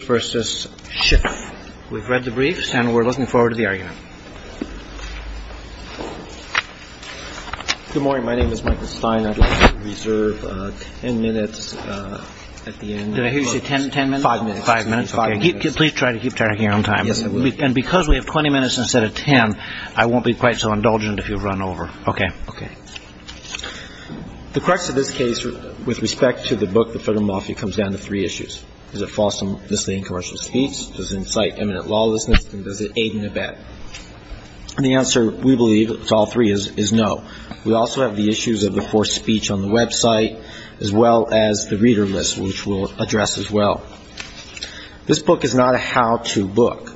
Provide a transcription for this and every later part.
We've read the briefs and we're looking forward to the argument. Good morning. My name is Michael Stein. I'd like to reserve ten minutes at the end. Did I hear you say ten minutes? Five minutes. Please try to keep track of your own time. Yes, I will. And because we have twenty minutes instead of ten, I won't be quite so indulgent if you run over. Okay. Okay. The crux of this case with respect to the book, The Federal Mafia, comes down to three issues. Is it false misleading commercial speech? Does it incite eminent lawlessness? And does it aid in a bet? And the answer, we believe, to all three is no. We also have the issues of the forced speech on the website, as well as the reader list, which we'll address as well. This book is not a how-to book.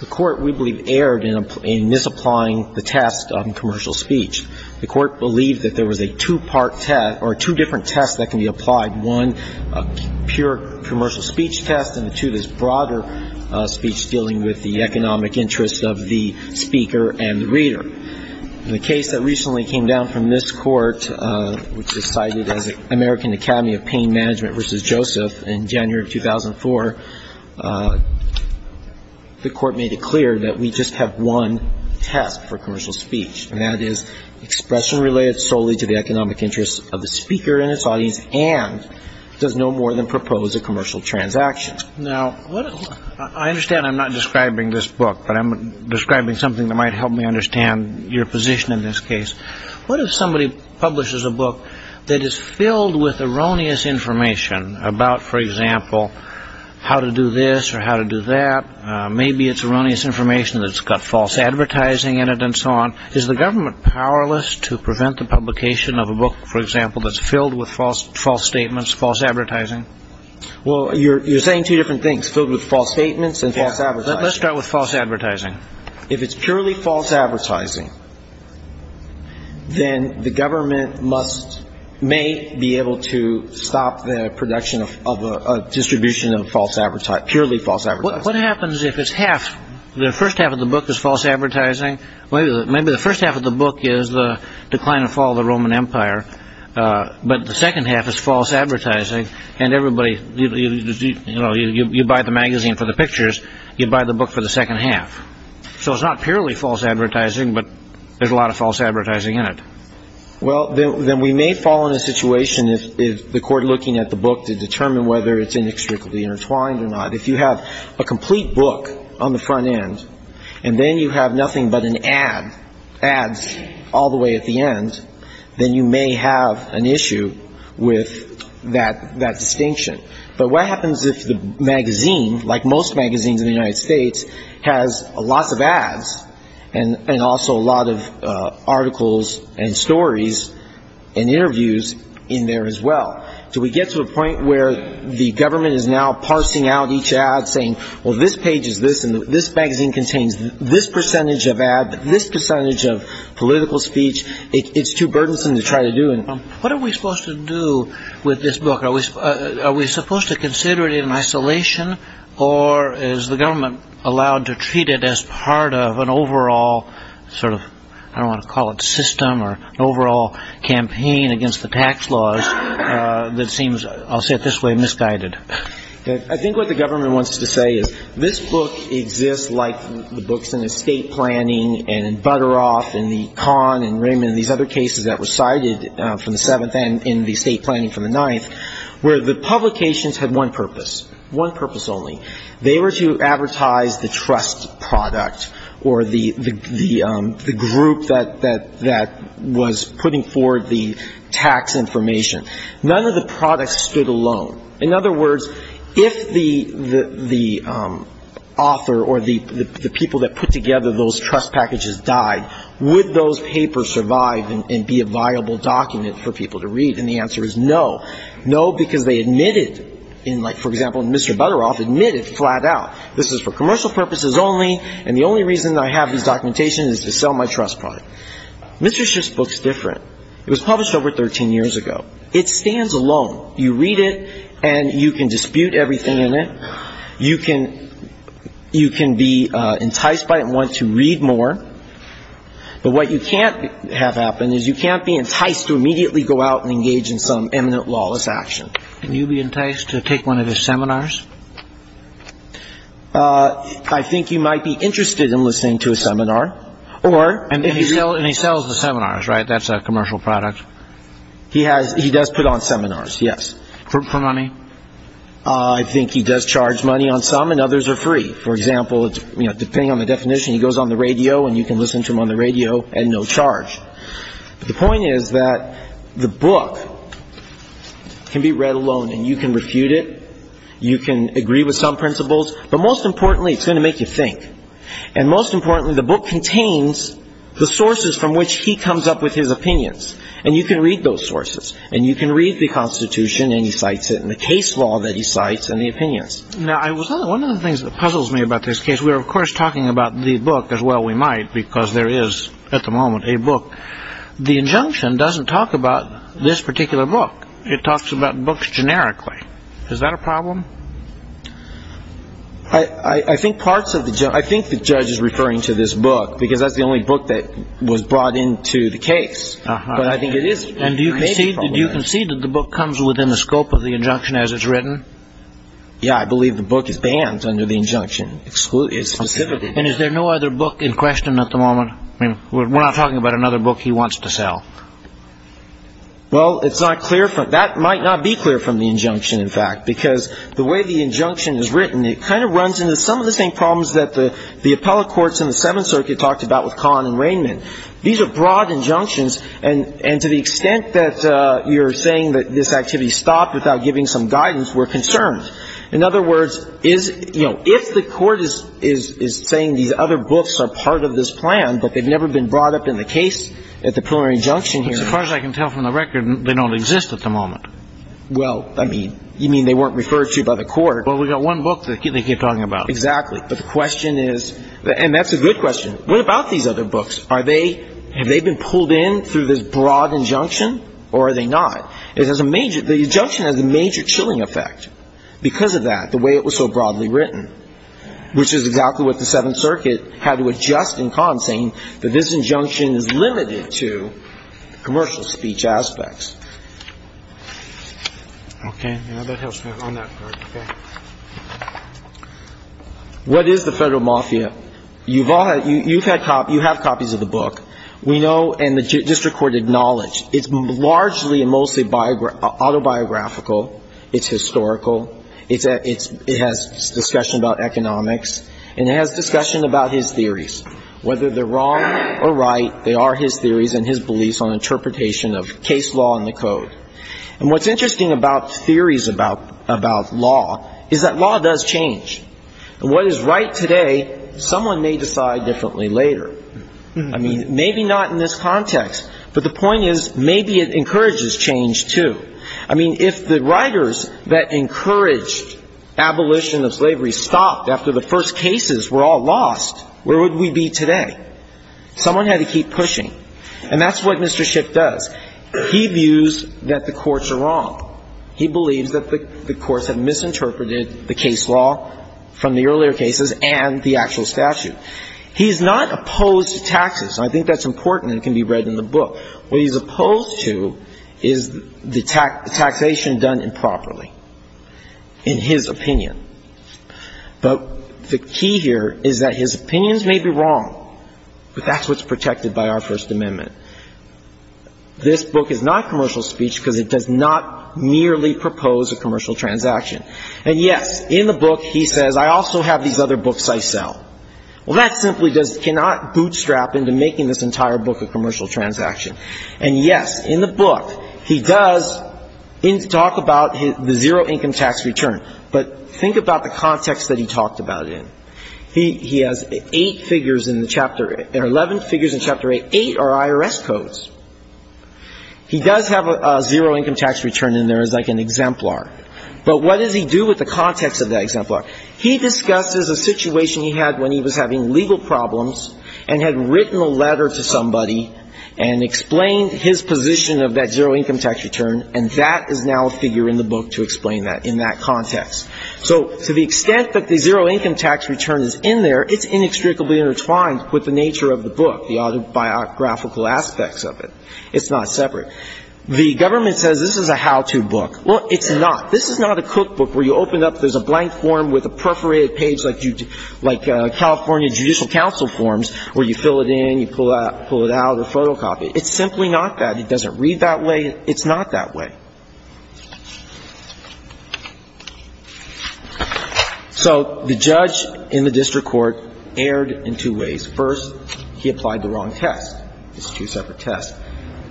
The Court, we believe, erred in misapplying the test on commercial speech. The Court believed that there was a two-part test, or two different tests that can be applied, one, a pure commercial speech test, and the two, this broader speech dealing with the economic interests of the speaker and the reader. In the case that recently came down from this Court, which was cited as American Academy of Pain Management v. Joseph in January of 2004, the Court made it clear that we just have one test for commercial speech, and that is expression related solely to the economic interests of the speaker and his audience, and does no more than propose a commercial transaction. Now, I understand I'm not describing this book, but I'm describing something that might help me understand your position in this case. What if somebody publishes a book that is filled with erroneous information about, for example, how to do this or how to do that? Maybe it's erroneous information that's got false advertising in it and so on. Is the government powerless to prevent the publication of a book, for example, that's filled with false statements, false advertising? Well, you're saying two different things, filled with false statements and false advertising. Let's start with false advertising. If it's purely false advertising, then the government may be able to stop the production of a distribution of purely false advertising. What happens if the first half of the book is false advertising? Maybe the first half of the book is the decline and fall of the Roman Empire, but the second half is false advertising, and you buy the magazine for the pictures, you buy the book for the second half. So it's not purely false advertising, but there's a lot of false advertising in it. Well, then we may fall in a situation if the Court looking at the book to determine whether it's inextricably intertwined or not. If you have a complete book on the front end, and then you have nothing but an ad, ads all the way at the end, then you may have an issue with that distinction. But what happens if the magazine, like most magazines in the United States, has lots of ads and also a lot of articles and stories and interviews in there as well? Do we get to a point where the government is now parsing out each ad, saying, well, this page is this, and this magazine contains this percentage of ad, this percentage of political speech? It's too burdensome to try to do. What are we supposed to do with this book? Are we supposed to consider it in isolation, or is the government allowed to treat it as part of an overall sort of, I don't want to call it system, or overall campaign against the tax laws that seems, I'll say it this way, misguided? I think what the government wants to say is this book exists like the books in estate planning and in Butteroff and the Kahn and Raymond and these other cases that were cited from the Seventh and in the estate planning from the Ninth, where the publications had one purpose, one purpose only. They were to advertise the trust product or the group that was putting forward the tax information. None of the products stood alone. In other words, if the author or the people that put together those trust packages died, would those papers survive and be a viable document for people to read? And the answer is no. No, because they admitted, for example, Mr. Butteroff admitted flat out this is for commercial purposes only and the only reason I have these documentations is to sell my trust product. Mr. Schiff's book is different. It was published over 13 years ago. It stands alone. You read it and you can dispute everything in it. You can be enticed by it and want to read more. But what you can't have happen is you can't be enticed to immediately go out and engage in some eminent lawless action. Would you be enticed to take one of his seminars? I think you might be interested in listening to a seminar. And he sells the seminars, right? That's a commercial product. He does put on seminars, yes. For money? I think he does charge money on some and others are free. For example, depending on the definition, he goes on the radio and you can listen to him on the radio at no charge. The point is that the book can be read alone and you can refute it. You can agree with some principles. But most importantly, it's going to make you think. And most importantly, the book contains the sources from which he comes up with his opinions. And you can read those sources. And you can read the Constitution and he cites it and the case law that he cites and the opinions. Now, one of the things that puzzles me about this case, we are, of course, talking about the book as well we might because there is, at the moment, a book. The injunction doesn't talk about this particular book. It talks about books generically. Is that a problem? I think the judge is referring to this book because that's the only book that was brought into the case. But I think it is maybe a problem. And do you concede that the book comes within the scope of the injunction as it's written? Yeah, I believe the book is banned under the injunction. And is there no other book in question at the moment? I mean, we're not talking about another book he wants to sell. Well, that might not be clear from the injunction, in fact, because the way the injunction is written, it kind of runs into some of the same problems that the appellate courts in the Seventh Circuit talked about with Kahn and Rainman. These are broad injunctions. And to the extent that you're saying that this activity stopped without giving some guidance, we're concerned. In other words, if the court is saying these other books are part of this plan but they've never been brought up in the case at the preliminary injunction hearing. As far as I can tell from the record, they don't exist at the moment. Well, I mean, you mean they weren't referred to by the court. Well, we've got one book that they keep talking about. Exactly. But the question is, and that's a good question, what about these other books? Are they – have they been pulled in through this broad injunction or are they not? It has a major – the injunction has a major chilling effect because of that, the way it was so broadly written, which is exactly what the Seventh Circuit had to adjust in Kahn, saying that this injunction is limited to commercial speech aspects. Okay. Now, that helps me on that part. Okay. What is the Federal Mafia? You've had copies – you have copies of the book. We know, and the district court acknowledged, it's largely and mostly autobiographical. It's historical. It has discussion about economics, and it has discussion about his theories. Whether they're wrong or right, they are his theories and his beliefs on interpretation of case law and the code. And what's interesting about theories about law is that law does change. And what is right today, someone may decide differently later. I mean, maybe not in this context, but the point is, maybe it encourages change, too. I mean, if the writers that encouraged abolition of slavery stopped after the first cases were all lost, where would we be today? Someone had to keep pushing. And that's what Mr. Schiff does. He views that the courts are wrong. He believes that the courts have misinterpreted the case law from the earlier cases and the actual statute. He's not opposed to taxes. I think that's important and can be read in the book. What he's opposed to is the taxation done improperly, in his opinion. But the key here is that his opinions may be wrong, but that's what's protected by our First Amendment. This book is not commercial speech because it does not merely propose a commercial transaction. And, yes, in the book he says, I also have these other books I sell. Well, that simply does not bootstrap into making this entire book a commercial transaction. And, yes, in the book he does talk about the zero income tax return. But think about the context that he talked about it in. He has eight figures in the chapter 11, figures in Chapter 8. Eight are IRS codes. He does have a zero income tax return in there as like an exemplar. But what does he do with the context of that exemplar? He discusses a situation he had when he was having legal problems and had written a letter to somebody and explained his position of that zero income tax return, and that is now a figure in the book to explain that in that context. So to the extent that the zero income tax return is in there, it's inextricably intertwined with the nature of the book, the autobiographical aspects of it. It's not separate. The government says this is a how-to book. Well, it's not. This is not a cookbook where you open up, there's a blank form with a perforated page like California Judicial Council forms where you fill it in, you pull it out, or photocopy. It's simply not that. It doesn't read that way. It's not that way. So the judge in the district court erred in two ways. First, he applied the wrong test. It's a two-separate test.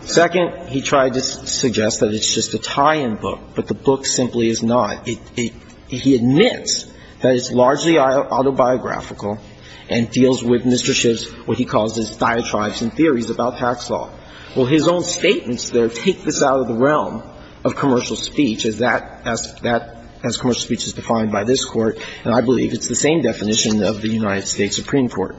Second, he tried to suggest that it's just a tie-in book, but the book simply is not. He admits that it's largely autobiographical and deals with Mr. Schiff's, what he calls his, diatribes and theories about tax law. Well, his own statements there take this out of the realm of commercial speech as that, as commercial speech is defined by this Court, and I believe it's the same definition of the United States Supreme Court.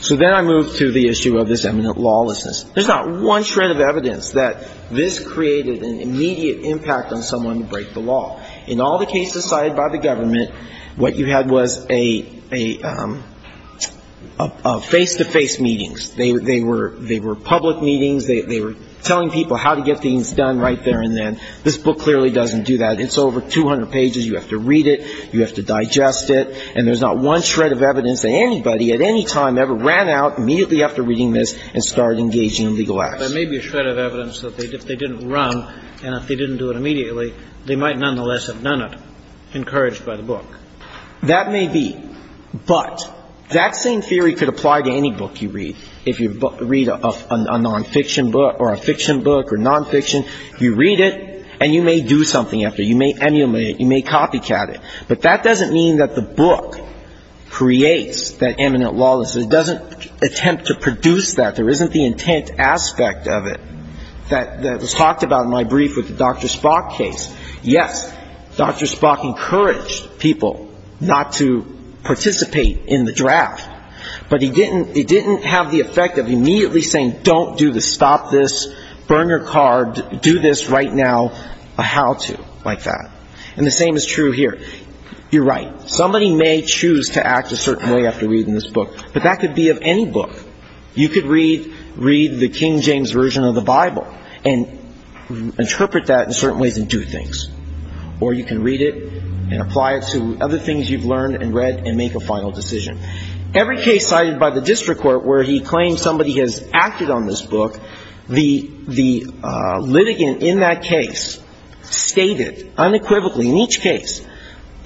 So then I move to the issue of this eminent lawlessness. There's not one shred of evidence that this created an immediate impact on someone to break the law. In all the cases cited by the government, what you had was a face-to-face meetings. They were public meetings. They were telling people how to get things done right there and then. This book clearly doesn't do that. It's over 200 pages. You have to read it. You have to digest it. And there's not one shred of evidence that anybody at any time ever ran out immediately after reading this and started engaging in legal action. There may be a shred of evidence that if they didn't run and if they didn't do it immediately, they might nonetheless have done it, encouraged by the book. That may be. But that same theory could apply to any book you read. If you read a nonfiction book or a fiction book or nonfiction, you read it and you may do something after. You may emulate it. You may copycat it. But that doesn't mean that the book creates that eminent lawlessness. It doesn't attempt to produce that. There isn't the intent aspect of it that was talked about in my brief with the Dr. Spock case. Yes, Dr. Spock encouraged people not to participate in the draft. But he didn't have the effect of immediately saying, don't do this, stop this, burn your car, do this right now, a how-to like that. And the same is true here. You're right. Somebody may choose to act a certain way after reading this book. But that could be of any book. You could read the King James Version of the Bible and interpret that in certain ways and do things. Or you can read it and apply it to other things you've learned and read and make a final decision. Every case cited by the district court where he claims somebody has acted on this book, the litigant in that case stated unequivocally in each case,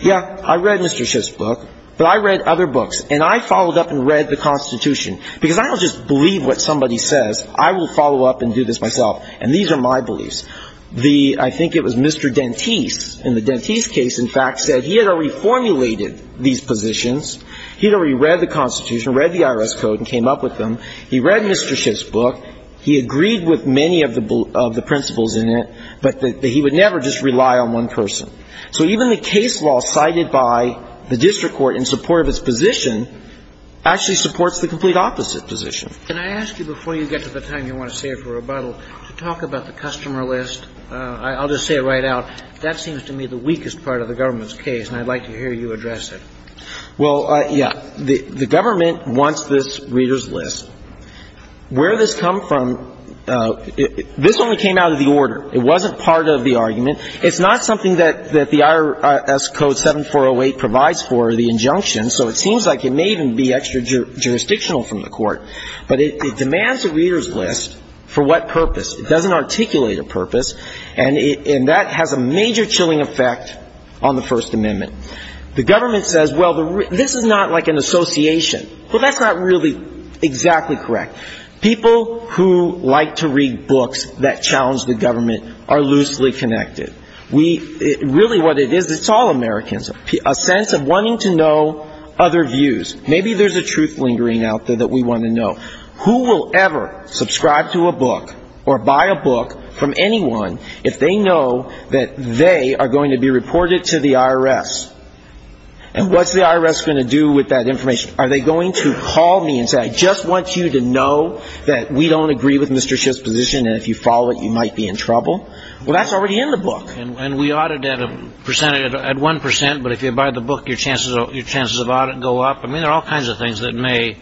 yeah, I read Mr. Schiff's book, but I read other books. And I followed up and read the Constitution. Because I don't just believe what somebody says. I will follow up and do this myself. And these are my beliefs. I think it was Mr. Dentise in the Dentise case, in fact, said he had already formulated these positions. He had already read the Constitution, read the IRS code and came up with them. He read Mr. Schiff's book. He agreed with many of the principles in it, but that he would never just rely on one person. So even the case law cited by the district court in support of his position actually supports the complete opposite position. Can I ask you, before you get to the time you want to save for rebuttal, to talk about the customer list? I'll just say it right out. That seems to me the weakest part of the government's case, and I'd like to hear you address it. Well, yeah. The government wants this reader's list. Where this comes from, this only came out of the order. It wasn't part of the argument. It's not something that the IRS code 7408 provides for, the injunction, so it seems like it may even be extra jurisdictional from the court. But it demands a reader's list. For what purpose? It doesn't articulate a purpose, and that has a major chilling effect on the First Amendment. The government says, well, this is not like an association. Well, that's not really exactly correct. People who like to read books that challenge the government are loosely connected. Really what it is, it's all Americans. A sense of wanting to know other views. Maybe there's a truth lingering out there that we want to know. Who will ever subscribe to a book or buy a book from anyone if they know that they are going to be reported to the IRS? And what's the IRS going to do with that information? Are they going to call me and say, I just want you to know that we don't agree with Mr. Schiff's position, and if you follow it, you might be in trouble? Well, that's already in the book. And we audit at one percent, but if you buy the book, your chances of audit go up. I mean, there are all kinds of things that may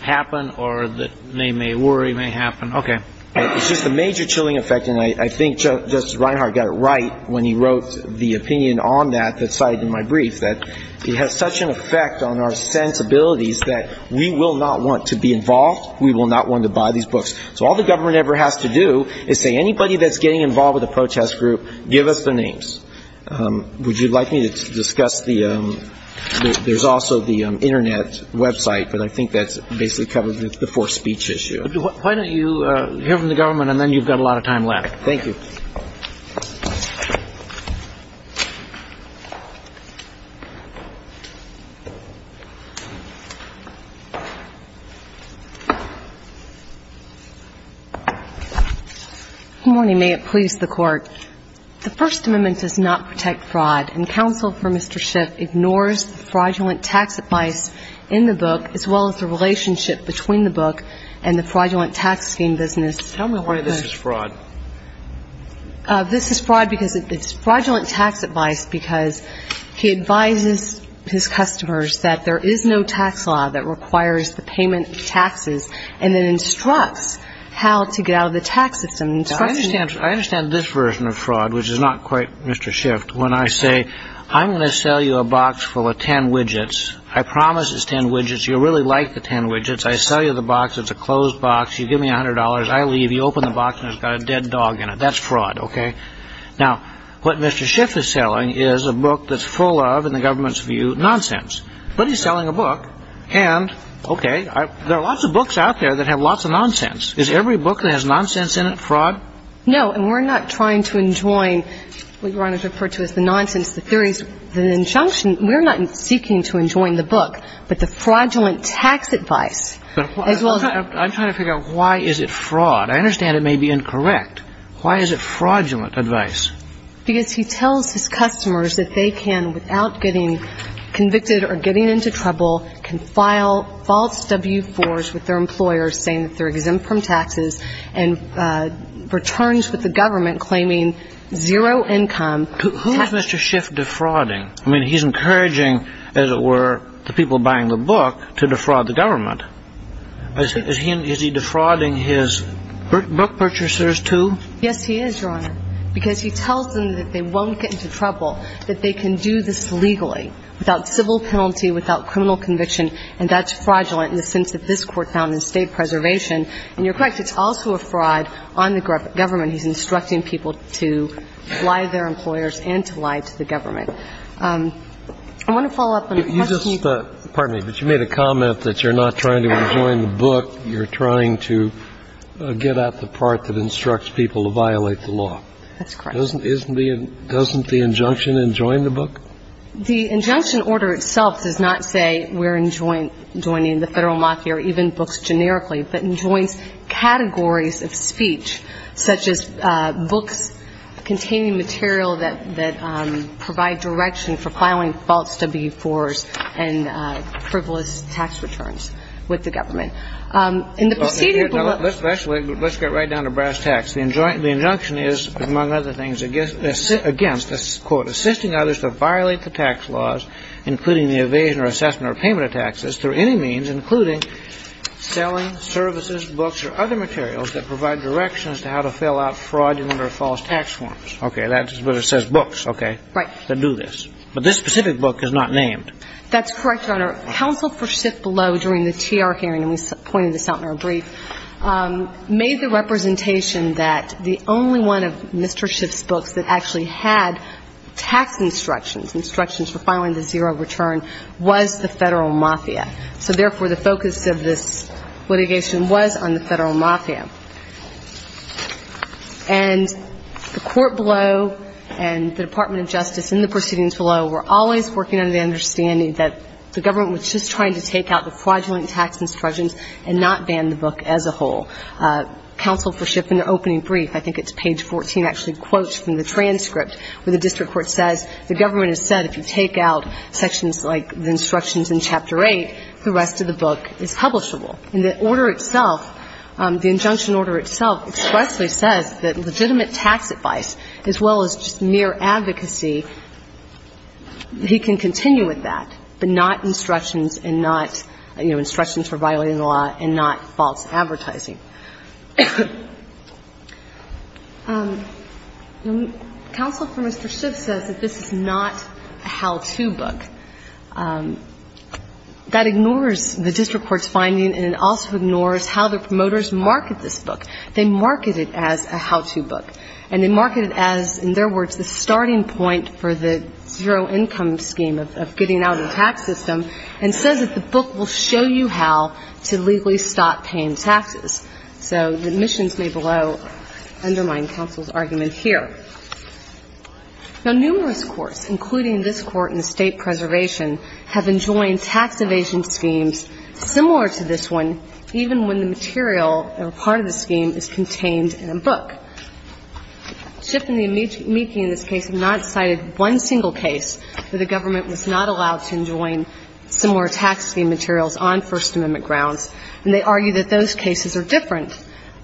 happen or that may worry, may happen. Okay. It's just a major chilling effect, and I think Justice Reinhart got it right when he wrote the opinion on that, that cited in my brief, that it has such an effect on our sensibilities that we will not want to be involved, we will not want to buy these books. So all the government ever has to do is say, anybody that's getting involved with a protest group, give us their names. Would you like me to discuss the ‑‑ there's also the Internet website, but I think that basically covers the forced speech issue. Why don't you hear from the government and then you've got a lot of time left. Thank you. Good morning. May it please the Court. The First Amendment does not protect fraud, and counsel for Mr. Schiff ignores the fraudulent tax advice in the book as well as the relationship between the book and the fraudulent tax scheme business. Tell me why this is fraud. This is fraud because it's fraudulent tax advice, because he advises his customers that there is no tax law that requires the payment of taxes and then instructs how to get out of the tax system. I understand this version of fraud, which is not quite Mr. Schiff, when I say I'm going to sell you a box full of ten widgets, I promise it's ten widgets, you'll really like the ten widgets, I sell you the box, it's a closed box, you give me $100, I leave, you open the box and it's got a dead dog in it. That's fraud, okay? Now, what Mr. Schiff is selling is a book that's full of, in the government's view, nonsense. But he's selling a book, and okay, there are lots of books out there that have lots of nonsense. Is every book that has nonsense in it fraud? No, and we're not trying to enjoin what you want to refer to as the nonsense, the theories, the injunction. We're not seeking to enjoin the book, but the fraudulent tax advice. I'm trying to figure out why is it fraud. I understand it may be incorrect. Why is it fraudulent advice? Because he tells his customers that they can, without getting convicted or getting into trouble, can file false W-4s with their employers saying that they're exempt from taxes and returns with the government claiming zero income. Who is Mr. Schiff defrauding? I mean, he's encouraging, as it were, the people buying the book to defraud the government. Is he defrauding his book purchasers, too? Yes, he is, Your Honor, because he tells them that they won't get into trouble, that they can do this legally without civil penalty, without criminal conviction, and that's fraudulent in the sense that this Court found in State Preservation. And you're correct. It's also a fraud on the government. And he's instructing people to lie to their employers and to lie to the government. I want to follow up on a question. Pardon me, but you made a comment that you're not trying to enjoin the book. You're trying to get at the part that instructs people to violate the law. That's correct. Doesn't the injunction enjoin the book? The injunction order itself does not say we're enjoining the Federal Mafia or even books generically, but enjoins categories of speech, such as books containing material that provide direction for filing false W-4s and frivolous tax returns with the government. In the proceeding of the book ---- Actually, let's get right down to brass tacks. The injunction is, among other things, against, quote, assisting others to violate the tax laws, including the evasion or assessment or payment of taxes, through any means, including selling services, books, or other materials that provide directions to how to fill out fraudulent or false tax forms. Okay. That's what it says, books. Okay. Right. That do this. But this specific book is not named. That's correct, Your Honor. Counsel for Schiff below during the TR hearing, and we pointed this out in our brief, made the representation that the only one of Mr. Schiff's books that actually had tax instructions, instructions for filing the zero return, was the Federal Mafia. So, therefore, the focus of this litigation was on the Federal Mafia. And the court below and the Department of Justice in the proceedings below were always working under the understanding that the government was just trying to take out the fraudulent tax instructions and not ban the book as a whole. Counsel for Schiff in the opening brief, I think it's page 14, actually quotes from the transcript where the district court says, the government has said if you take out sections like the instructions in Chapter 8, the rest of the book is publishable. And the order itself, the injunction order itself, expressly says that legitimate tax advice as well as just mere advocacy, he can continue with that, but not instructions and not, you know, instructions for violating the law and not false advertising. Counsel for Mr. Schiff says that this is not a how-to book. That ignores the district court's finding and it also ignores how the promoters market this book. They market it as a how-to book. And they market it as, in their words, the starting point for the zero income scheme of getting out of the tax system and says that the book will show you how to legally stop paying taxes. So the omissions made below undermine counsel's argument here. Now, numerous courts, including this Court in the State Preservation, have enjoined tax evasion schemes similar to this one, even when the material or part of the scheme is contained in a book. Schiff and the amici in this case have not cited one single case where the government was not allowed to enjoin similar tax scheme materials on First Amendment grounds. And they argue that those cases are different.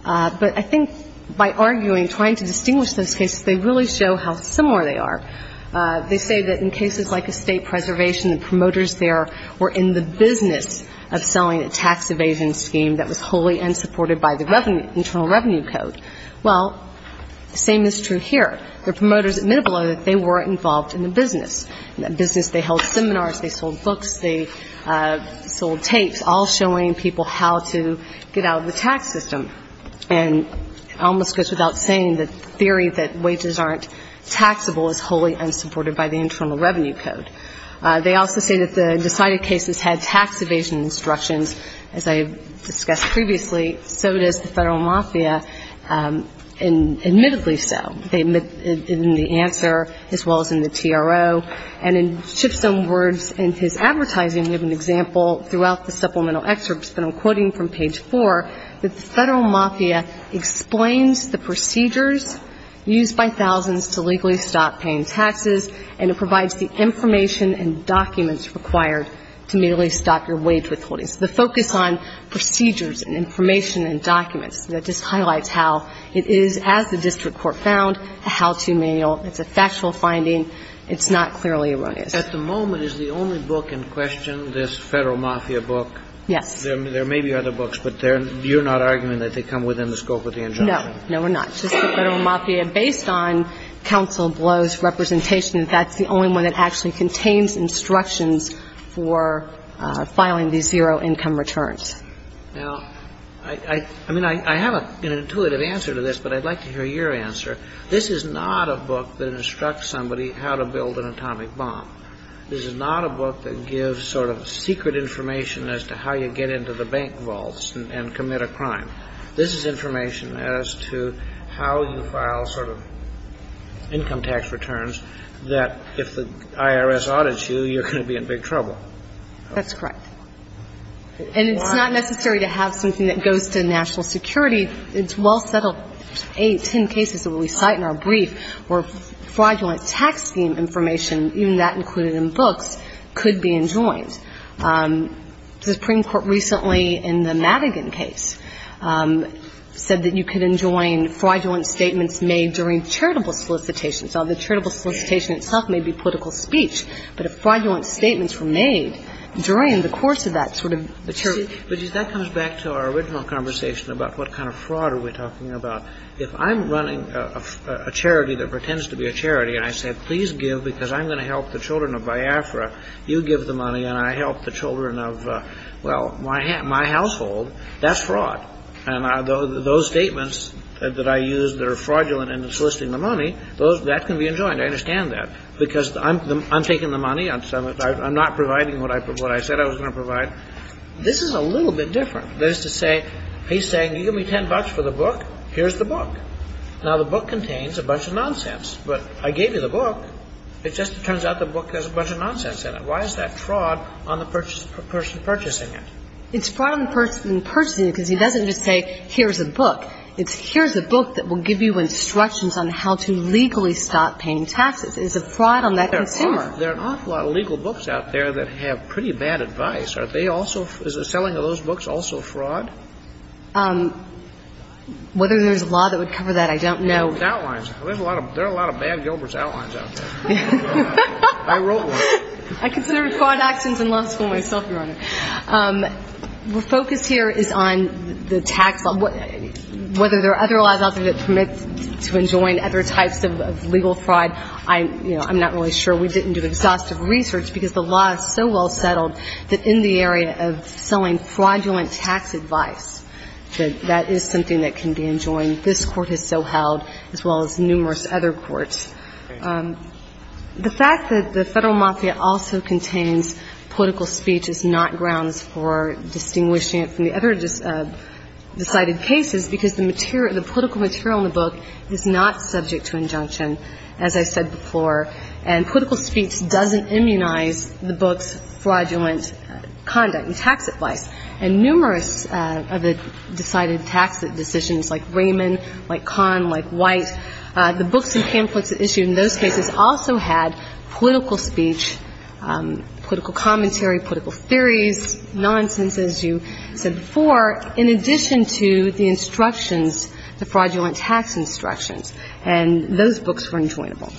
But I think by arguing, trying to distinguish those cases, they really show how similar they are. They say that in cases like a State Preservation, the promoters there were in the business of selling a tax evasion scheme that was wholly unsupported by the Internal Revenue Code. Well, the same is true here. The promoters admit below that they were involved in the business, in that business they held seminars, they sold books, they sold tapes, all showing people how to get out of the tax system. And it almost goes without saying that the theory that wages aren't taxable is wholly unsupported by the Internal Revenue Code. They also say that the decided cases had tax evasion instructions. As I discussed previously, so does the federal mafia, and admittedly so. They admit in the answer as well as in the TRO. And in Schiff's own words in his advertising, we have an example throughout the supplemental excerpts, but I'm quoting from page 4, that the federal mafia explains the procedures used by thousands to legally stop paying taxes, and it provides the information and documents required to merely stop your wage withholding. So the focus on procedures and information and documents, that just highlights how it is, as the district court found, a how-to manual. It's a factual finding. It's not clearly erroneous. At the moment, is the only book in question this federal mafia book? Yes. There may be other books, but you're not arguing that they come within the scope of the injunction? No. No, we're not. It's just that federal mafia, based on counsel Blow's representation, that's the only one that actually contains instructions for filing these zero-income returns. Now, I mean, I have an intuitive answer to this, but I'd like to hear your answer. This is not a book that instructs somebody how to build an atomic bomb. This is not a book that gives sort of secret information as to how you get into the bank vaults and commit a crime. This is information as to how you file sort of income tax returns that, if the IRS audits you, you're going to be in big trouble. That's correct. And it's not necessary to have something that goes to national security. It's well settled. Eight, ten cases that we cite in our brief where fraudulent tax scheme information, even that included in books, could be enjoined. The Supreme Court recently in the Madigan case said that you could enjoin fraudulent statements made during charitable solicitations. Now, the charitable solicitation itself may be political speech, but if fraudulent statements were made during the course of that sort of charitable solicitation about what kind of fraud are we talking about. If I'm running a charity that pretends to be a charity and I say, please give because I'm going to help the children of Biafra, you give the money and I help the children of, well, my household, that's fraud. And those statements that I use that are fraudulent in soliciting the money, that can be enjoined. I understand that. Because I'm taking the money. I'm not providing what I said I was going to provide. This is a little bit different. That is to say, he's saying, you give me $10 for the book, here's the book. Now, the book contains a bunch of nonsense. But I gave you the book, it just turns out the book has a bunch of nonsense in it. Why is that fraud on the person purchasing it? It's fraud on the person purchasing it because he doesn't just say, here's a book. It's here's a book that will give you instructions on how to legally stop paying taxes. It's a fraud on that consumer. There are an awful lot of legal books out there that have pretty bad advice. Are they also, is the selling of those books also fraud? Whether there's a law that would cover that, I don't know. There's outlines. There are a lot of bad Gilbert's outlines out there. I wrote one. I consider record actions in law school myself, Your Honor. The focus here is on the tax law. Whether there are other laws out there that permit to enjoin other types of legal fraud, I'm not really sure. We didn't do exhaustive research because the law is so well settled that in the area of selling fraudulent tax advice, that is something that can be enjoined. This Court has so held, as well as numerous other courts. The fact that the Federal Mafia also contains political speech is not grounds for distinguishing it from the other decided cases because the material, the political material in the book is not subject to injunction, as I said before. And political speech doesn't immunize the book's fraudulent conduct and tax advice. And numerous of the decided tax decisions, like Raymond, like Kahn, like White, the books and pamphlets issued in those cases also had political speech, political commentary, political theories, nonsense, as you said before, in addition to the instructions, the fraudulent tax instructions. And those books were enjoinable.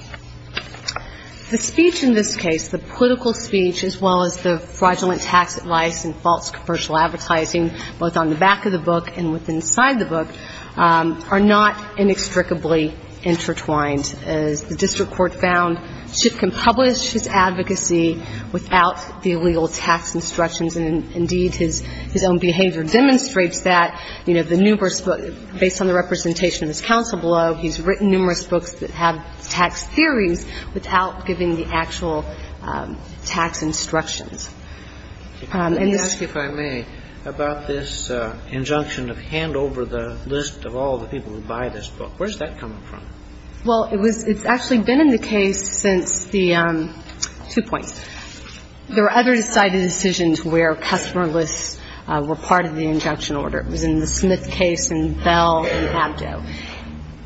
The speech in this case, the political speech, as well as the fraudulent tax advice and false commercial advertising, both on the back of the book and inside the book, are not inextricably intertwined. As the district court found, Schiff can publish his advocacy without the illegal tax instructions, and indeed his own behavior demonstrates that. You know, the numerous books, based on the representation of his counsel below, he's written numerous books that have tax theories without giving the actual tax instructions. And this — Can you ask, if I may, about this injunction of hand over the list of all the people who buy this book? Where's that coming from? Well, it was — it's actually been in the case since the — two points. There were other decided decisions where customer lists were part of the injunction order. It was in the Smith case and Bell and Abdo.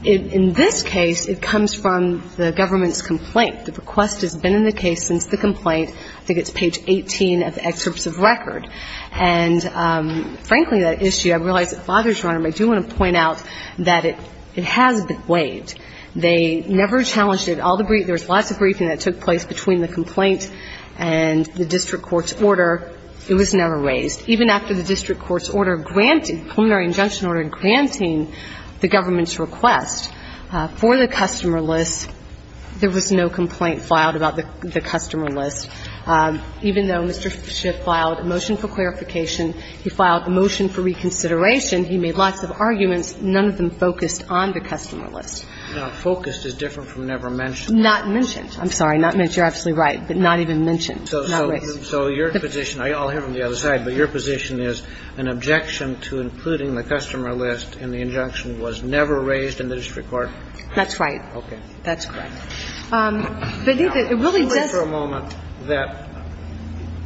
In this case, it comes from the government's complaint. The request has been in the case since the complaint. I think it's page 18 of the excerpts of record. And, frankly, that issue, I realize it bothers Your Honor, but I do want to point out that it has been waived. They never challenged it. There was lots of briefing that took place between the complaint and the district court's order. It was never raised. Even after the district court's order granted, preliminary injunction order granting the government's request for the customer list, there was no complaint filed about the customer list. Even though Mr. Schiff filed a motion for clarification, he filed a motion for reconsideration, he made lots of arguments. None of them focused on the customer list. Now, focused is different from never mentioned. Not mentioned. I'm sorry. Not mentioned. You're absolutely right. But not even mentioned. Not raised. So your position, I'll hear from the other side, but your position is an objection to including the customer list in the injunction was never raised in the district court? That's right. Okay. That's correct. But it really does. Let's wait for a moment that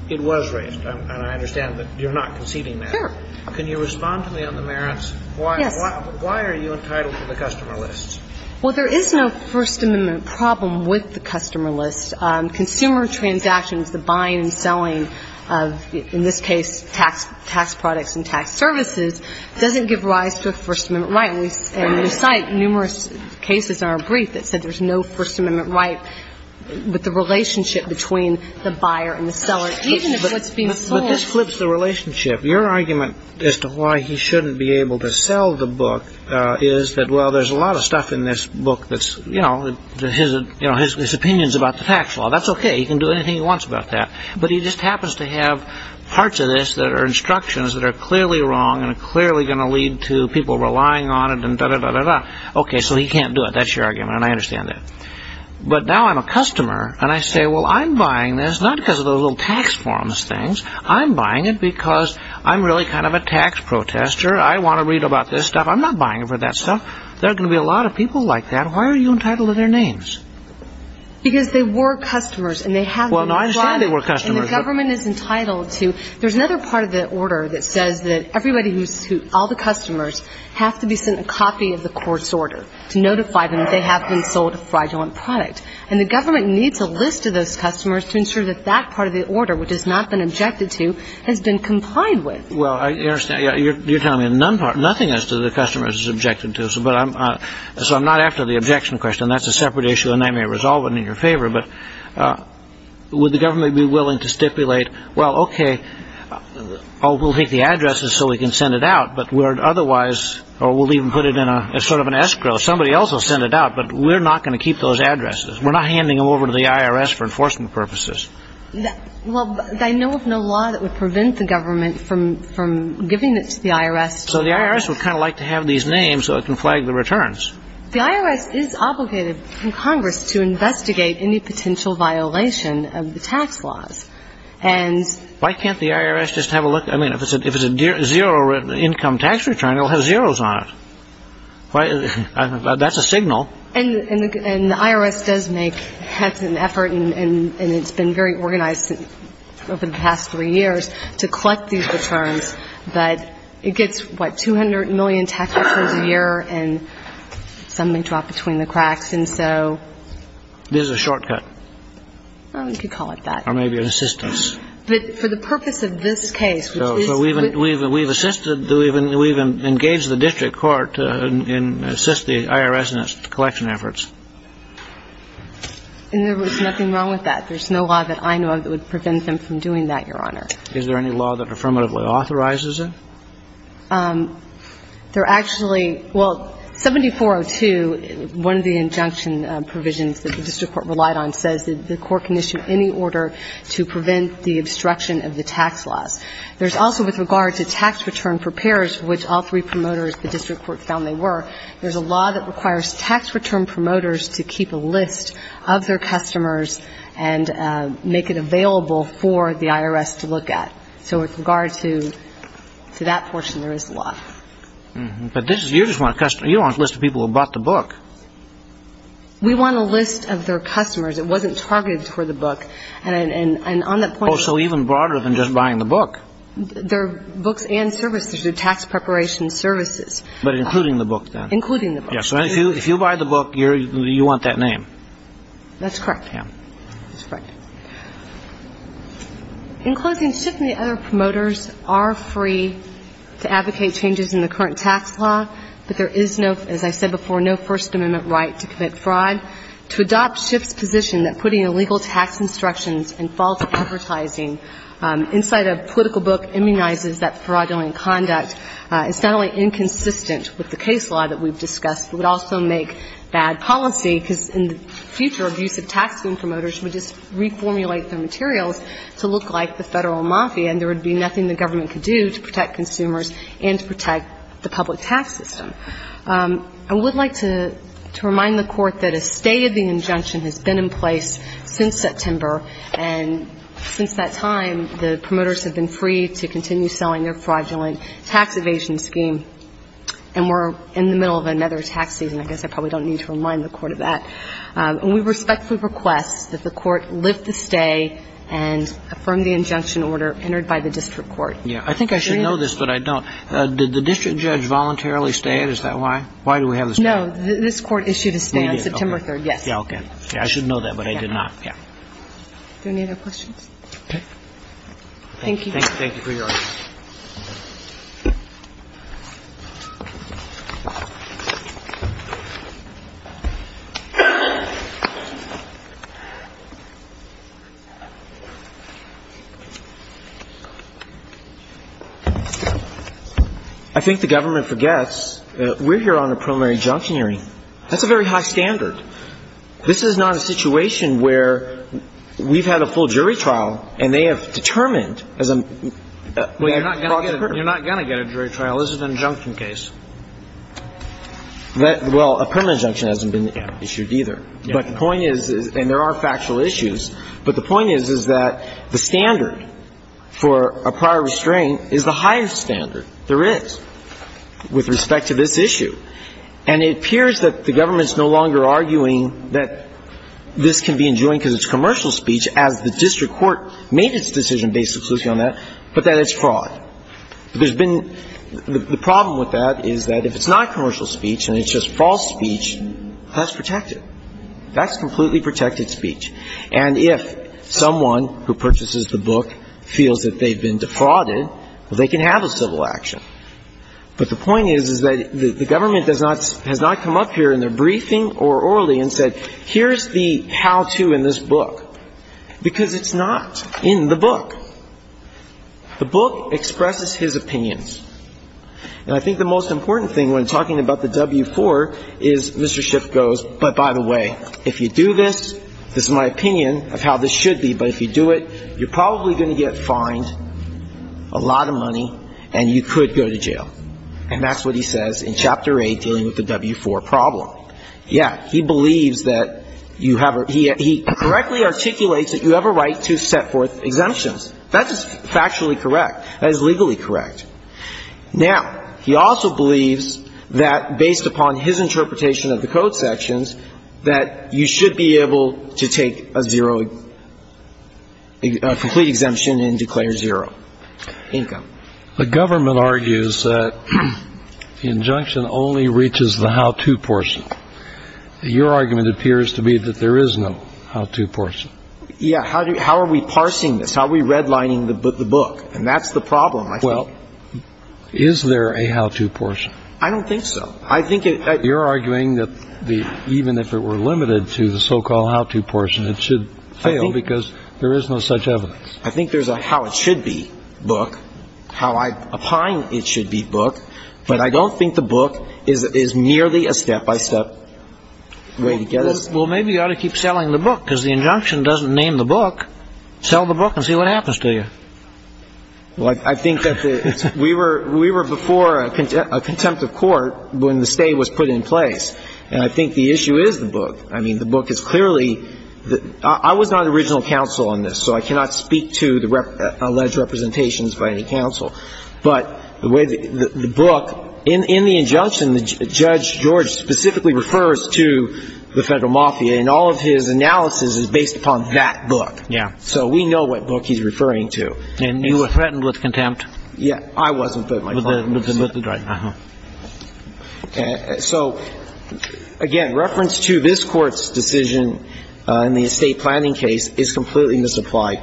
it was raised. And I understand that you're not conceding that. Sure. Can you respond to me on the merits? Yes. Why are you entitled to the customer list? Well, there is no First Amendment problem with the customer list. Consumer transactions, the buying and selling of, in this case, tax products and tax services, doesn't give rise to a First Amendment right. And we cite numerous cases in our brief that said there's no First Amendment right with the relationship between the buyer and the seller, even if it's being sold. But this flips the relationship. Your argument as to why he shouldn't be able to sell the book is that, well, there's a lot of stuff in this book that's, you know, his opinions about the tax law. That's okay. He can do anything he wants about that. But he just happens to have parts of this that are instructions that are clearly wrong and are clearly going to lead to people relying on it and da-da-da-da-da. Okay, so he can't do it. That's your argument, and I understand that. But now I'm a customer, and I say, well, I'm buying this not because of those little tax forms things. I'm buying it because I'm really kind of a tax protester. I want to read about this stuff. I'm not buying it for that stuff. There are going to be a lot of people like that. So why are you entitled to their names? Because they were customers, and they have been fraudulent. Well, no, I understand they were customers. And the government is entitled to. There's another part of the order that says that everybody who's, all the customers have to be sent a copy of the court's order to notify them that they have been sold a fraudulent product. And the government needs a list of those customers to ensure that that part of the order, which has not been objected to, has been complied with. Well, I understand. You're telling me nothing as to the customers it's objected to. So I'm not after the objection question. That's a separate issue, and I may resolve it in your favor. But would the government be willing to stipulate, well, okay, we'll take the addresses so we can send it out, but we're otherwise, or we'll even put it in sort of an escrow. Somebody else will send it out, but we're not going to keep those addresses. We're not handing them over to the IRS for enforcement purposes. Well, they know of no law that would prevent the government from giving it to the IRS. So the IRS would kind of like to have these names so it can flag the returns. The IRS is obligated in Congress to investigate any potential violation of the tax laws. Why can't the IRS just have a look? I mean, if it's a zero income tax return, it'll have zeros on it. That's a signal. And the IRS does make an effort, and it's been very organized over the past three years, to collect these returns, but it gets, what, 200 million tax returns a year, and some may drop between the cracks, and so. It is a shortcut. You could call it that. Or maybe an assistance. But for the purpose of this case, which is. So we've assisted, we've engaged the district court to assist the IRS in its collection efforts. And there was nothing wrong with that. There's no law that I know of that would prevent them from doing that, Your Honor. Is there any law that affirmatively authorizes it? There actually. Well, 7402, one of the injunction provisions that the district court relied on, says that the court can issue any order to prevent the obstruction of the tax laws. There's also, with regard to tax return for payers, which all three promoters, the district court found they were, there's a law that requires tax return promoters to keep a list of their customers and make it available for the IRS to look at. So with regard to that portion, there is a law. But you don't want a list of people who bought the book. We want a list of their customers. It wasn't targeted for the book. And on that point. Oh, so even broader than just buying the book. They're books and services. They're tax preparation services. But including the book, then. Including the book. So if you buy the book, you want that name. That's correct. Yeah. That's correct. In closing, Schiff and the other promoters are free to advocate changes in the current tax law, but there is no, as I said before, no First Amendment right to commit fraud. To adopt Schiff's position that putting illegal tax instructions and false advertising inside a political book immunizes that fraudulent conduct is not only inconsistent with the case law that we've discussed, but would also make bad policy, because in the future, abusive taxing promoters would just reformulate their materials to look like the federal mafia, and there would be nothing the government could do to protect consumers and to protect the public tax system. I would like to remind the Court that a state of the injunction has been in place since September. And since that time, the promoters have been free to continue selling their fraudulent tax evasion scheme. And we're in the middle of another tax season. I guess I probably don't need to remind the Court of that. And we respectfully request that the Court lift the stay and affirm the injunction order entered by the district court. Yeah. I think I should know this, but I don't. Did the district judge voluntarily stay? Is that why? Why do we have the stay? No. This Court issued a stay on September 3rd. Yes. Yeah, okay. I should know that, but I did not. Yeah. Do we have any other questions? Okay. Thank you. Thank you for your audience. I think the government forgets that we're here on a preliminary injunction hearing. That's a very high standard. This is not a situation where we've had a full jury trial, and they have determined, as a matter of fact, You're not going to get a jury trial. This is an injunction case. Well, a preliminary injunction hasn't been issued either. But the point is, and there are factual issues, but the point is, is that the standard for a prior restraint is the highest standard there is with respect to this issue. And it appears that the government is no longer arguing that this can be enjoined as the district court made its decision based exclusively on that, but that it's fraud. The problem with that is that if it's not commercial speech and it's just false speech, that's protected. That's completely protected speech. And if someone who purchases the book feels that they've been defrauded, they can have a civil action. But the point is, is that the government has not come up here in their briefing or orally and said, Here's the how-to in this book. Because it's not in the book. The book expresses his opinions. And I think the most important thing when talking about the W-4 is Mr. Schiff goes, But by the way, if you do this, this is my opinion of how this should be, but if you do it, you're probably going to get fined a lot of money, and you could go to jail. And that's what he says in Chapter 8 dealing with the W-4 problem. Yeah, he believes that you have a he correctly articulates that you have a right to set forth exemptions. That is factually correct. That is legally correct. Now, he also believes that based upon his interpretation of the code sections, that you should be able to take a zero, a complete exemption and declare zero income. The government argues that the injunction only reaches the how-to portion. Your argument appears to be that there is no how-to portion. Yeah. How are we parsing this? How are we redlining the book? And that's the problem, I think. Well, is there a how-to portion? I don't think so. You're arguing that even if it were limited to the so-called how-to portion, it should fail because there is no such evidence. I think there's a how it should be book, how I opine it should be book, but I don't think the book is merely a step-by-step way to get us. Well, maybe you ought to keep selling the book because the injunction doesn't name the book. Sell the book and see what happens to you. Well, I think that we were before a contempt of court when the stay was put in place, and I think the issue is the book. I mean, the book is clearly the ‑‑ I was not an original counsel on this, so I cannot speak to the alleged representations by any counsel, but the way the book, in the injunction, the judge, George, specifically refers to the Federal Mafia, and all of his analysis is based upon that book. Yeah. So we know what book he's referring to. And you were threatened with contempt. Yeah. I wasn't, but my client was. But the ‑‑ uh-huh. So, again, reference to this Court's decision in the estate planning case is completely misapplied.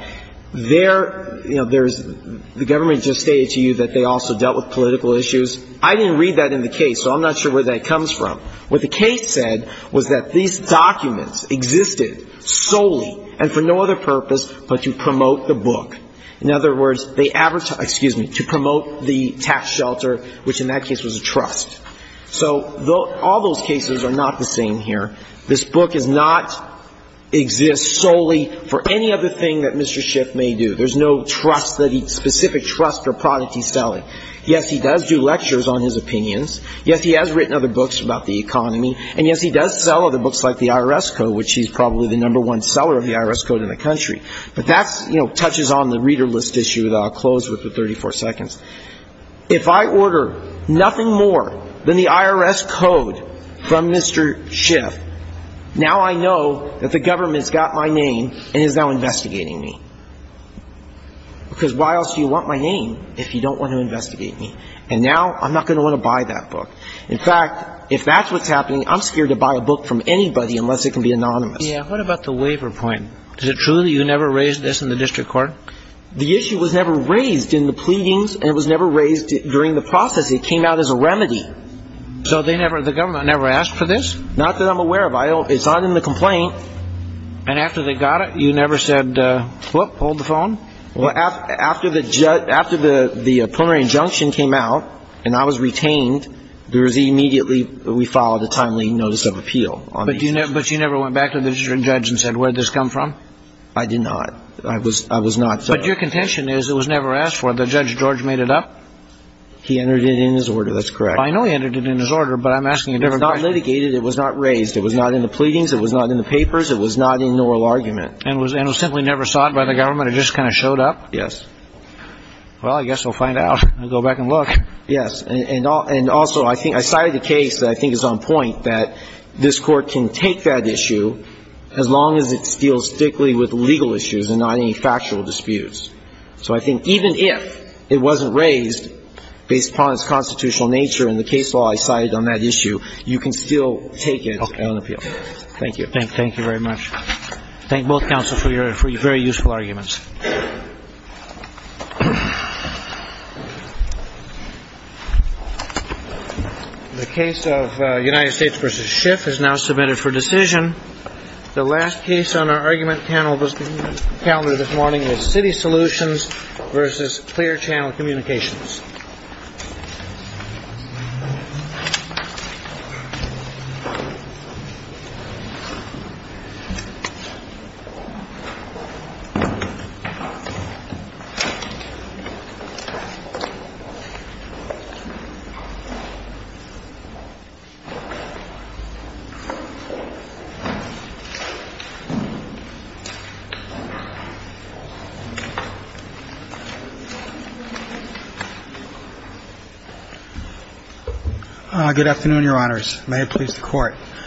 There, you know, there's ‑‑ the government just stated to you that they also dealt with political issues. I didn't read that in the case, so I'm not sure where that comes from. What the case said was that these documents existed solely and for no other purpose but to promote the book. In other words, they ‑‑ excuse me, to promote the tax shelter, which in that case was a trust. So all those cases are not the same here. This book does not exist solely for any other thing that Mr. Schiff may do. There's no trust that he ‑‑ specific trust or product he's selling. Yes, he does do lectures on his opinions. Yes, he has written other books about the economy. And, yes, he does sell other books like the IRS Code, which he's probably the number one seller of the IRS Code in the country. But that, you know, touches on the reader list issue that I'll close with in 34 seconds. If I order nothing more than the IRS Code from Mr. Schiff, now I know that the government's got my name and is now investigating me. Because why else do you want my name if you don't want to investigate me? And now I'm not going to want to buy that book. In fact, if that's what's happening, I'm scared to buy a book from anybody unless it can be anonymous. Yeah, what about the waiver point? Is it true that you never raised this in the district court? The issue was never raised in the pleadings, and it was never raised during the process. It came out as a remedy. So the government never asked for this? Not that I'm aware of. It's not in the complaint. And after they got it, you never said, what, pulled the phone? Well, after the preliminary injunction came out and I was retained, there was immediately ‑‑ we filed a timely notice of appeal. But you never went back to the district judge and said, where did this come from? I did not. I was not ‑‑ But your contention is it was never asked for. The judge, George, made it up? He entered it in his order. That's correct. I know he entered it in his order, but I'm asking a different question. It was not litigated. It was not raised. It was not in the pleadings. It was not in the papers. It was not in an oral argument. And it was simply never sought by the government? It just kind of showed up? Yes. Well, I guess we'll find out. We'll go back and look. Yes. And also, I cited a case that I think is on point that this Court can take that issue as long as it deals strictly with legal issues and not any factual disputes. So I think even if it wasn't raised based upon its constitutional nature in the case law I cited on that issue, you can still take it on appeal. Okay. Thank you. Thank you very much. Thank both counsels for your very useful arguments. The case of United States versus Schiff is now submitted for decision. The last case on our argument panel calendar this morning is City Solutions versus Clear Channel Communications. Good afternoon, Your Honors. May it please the Court.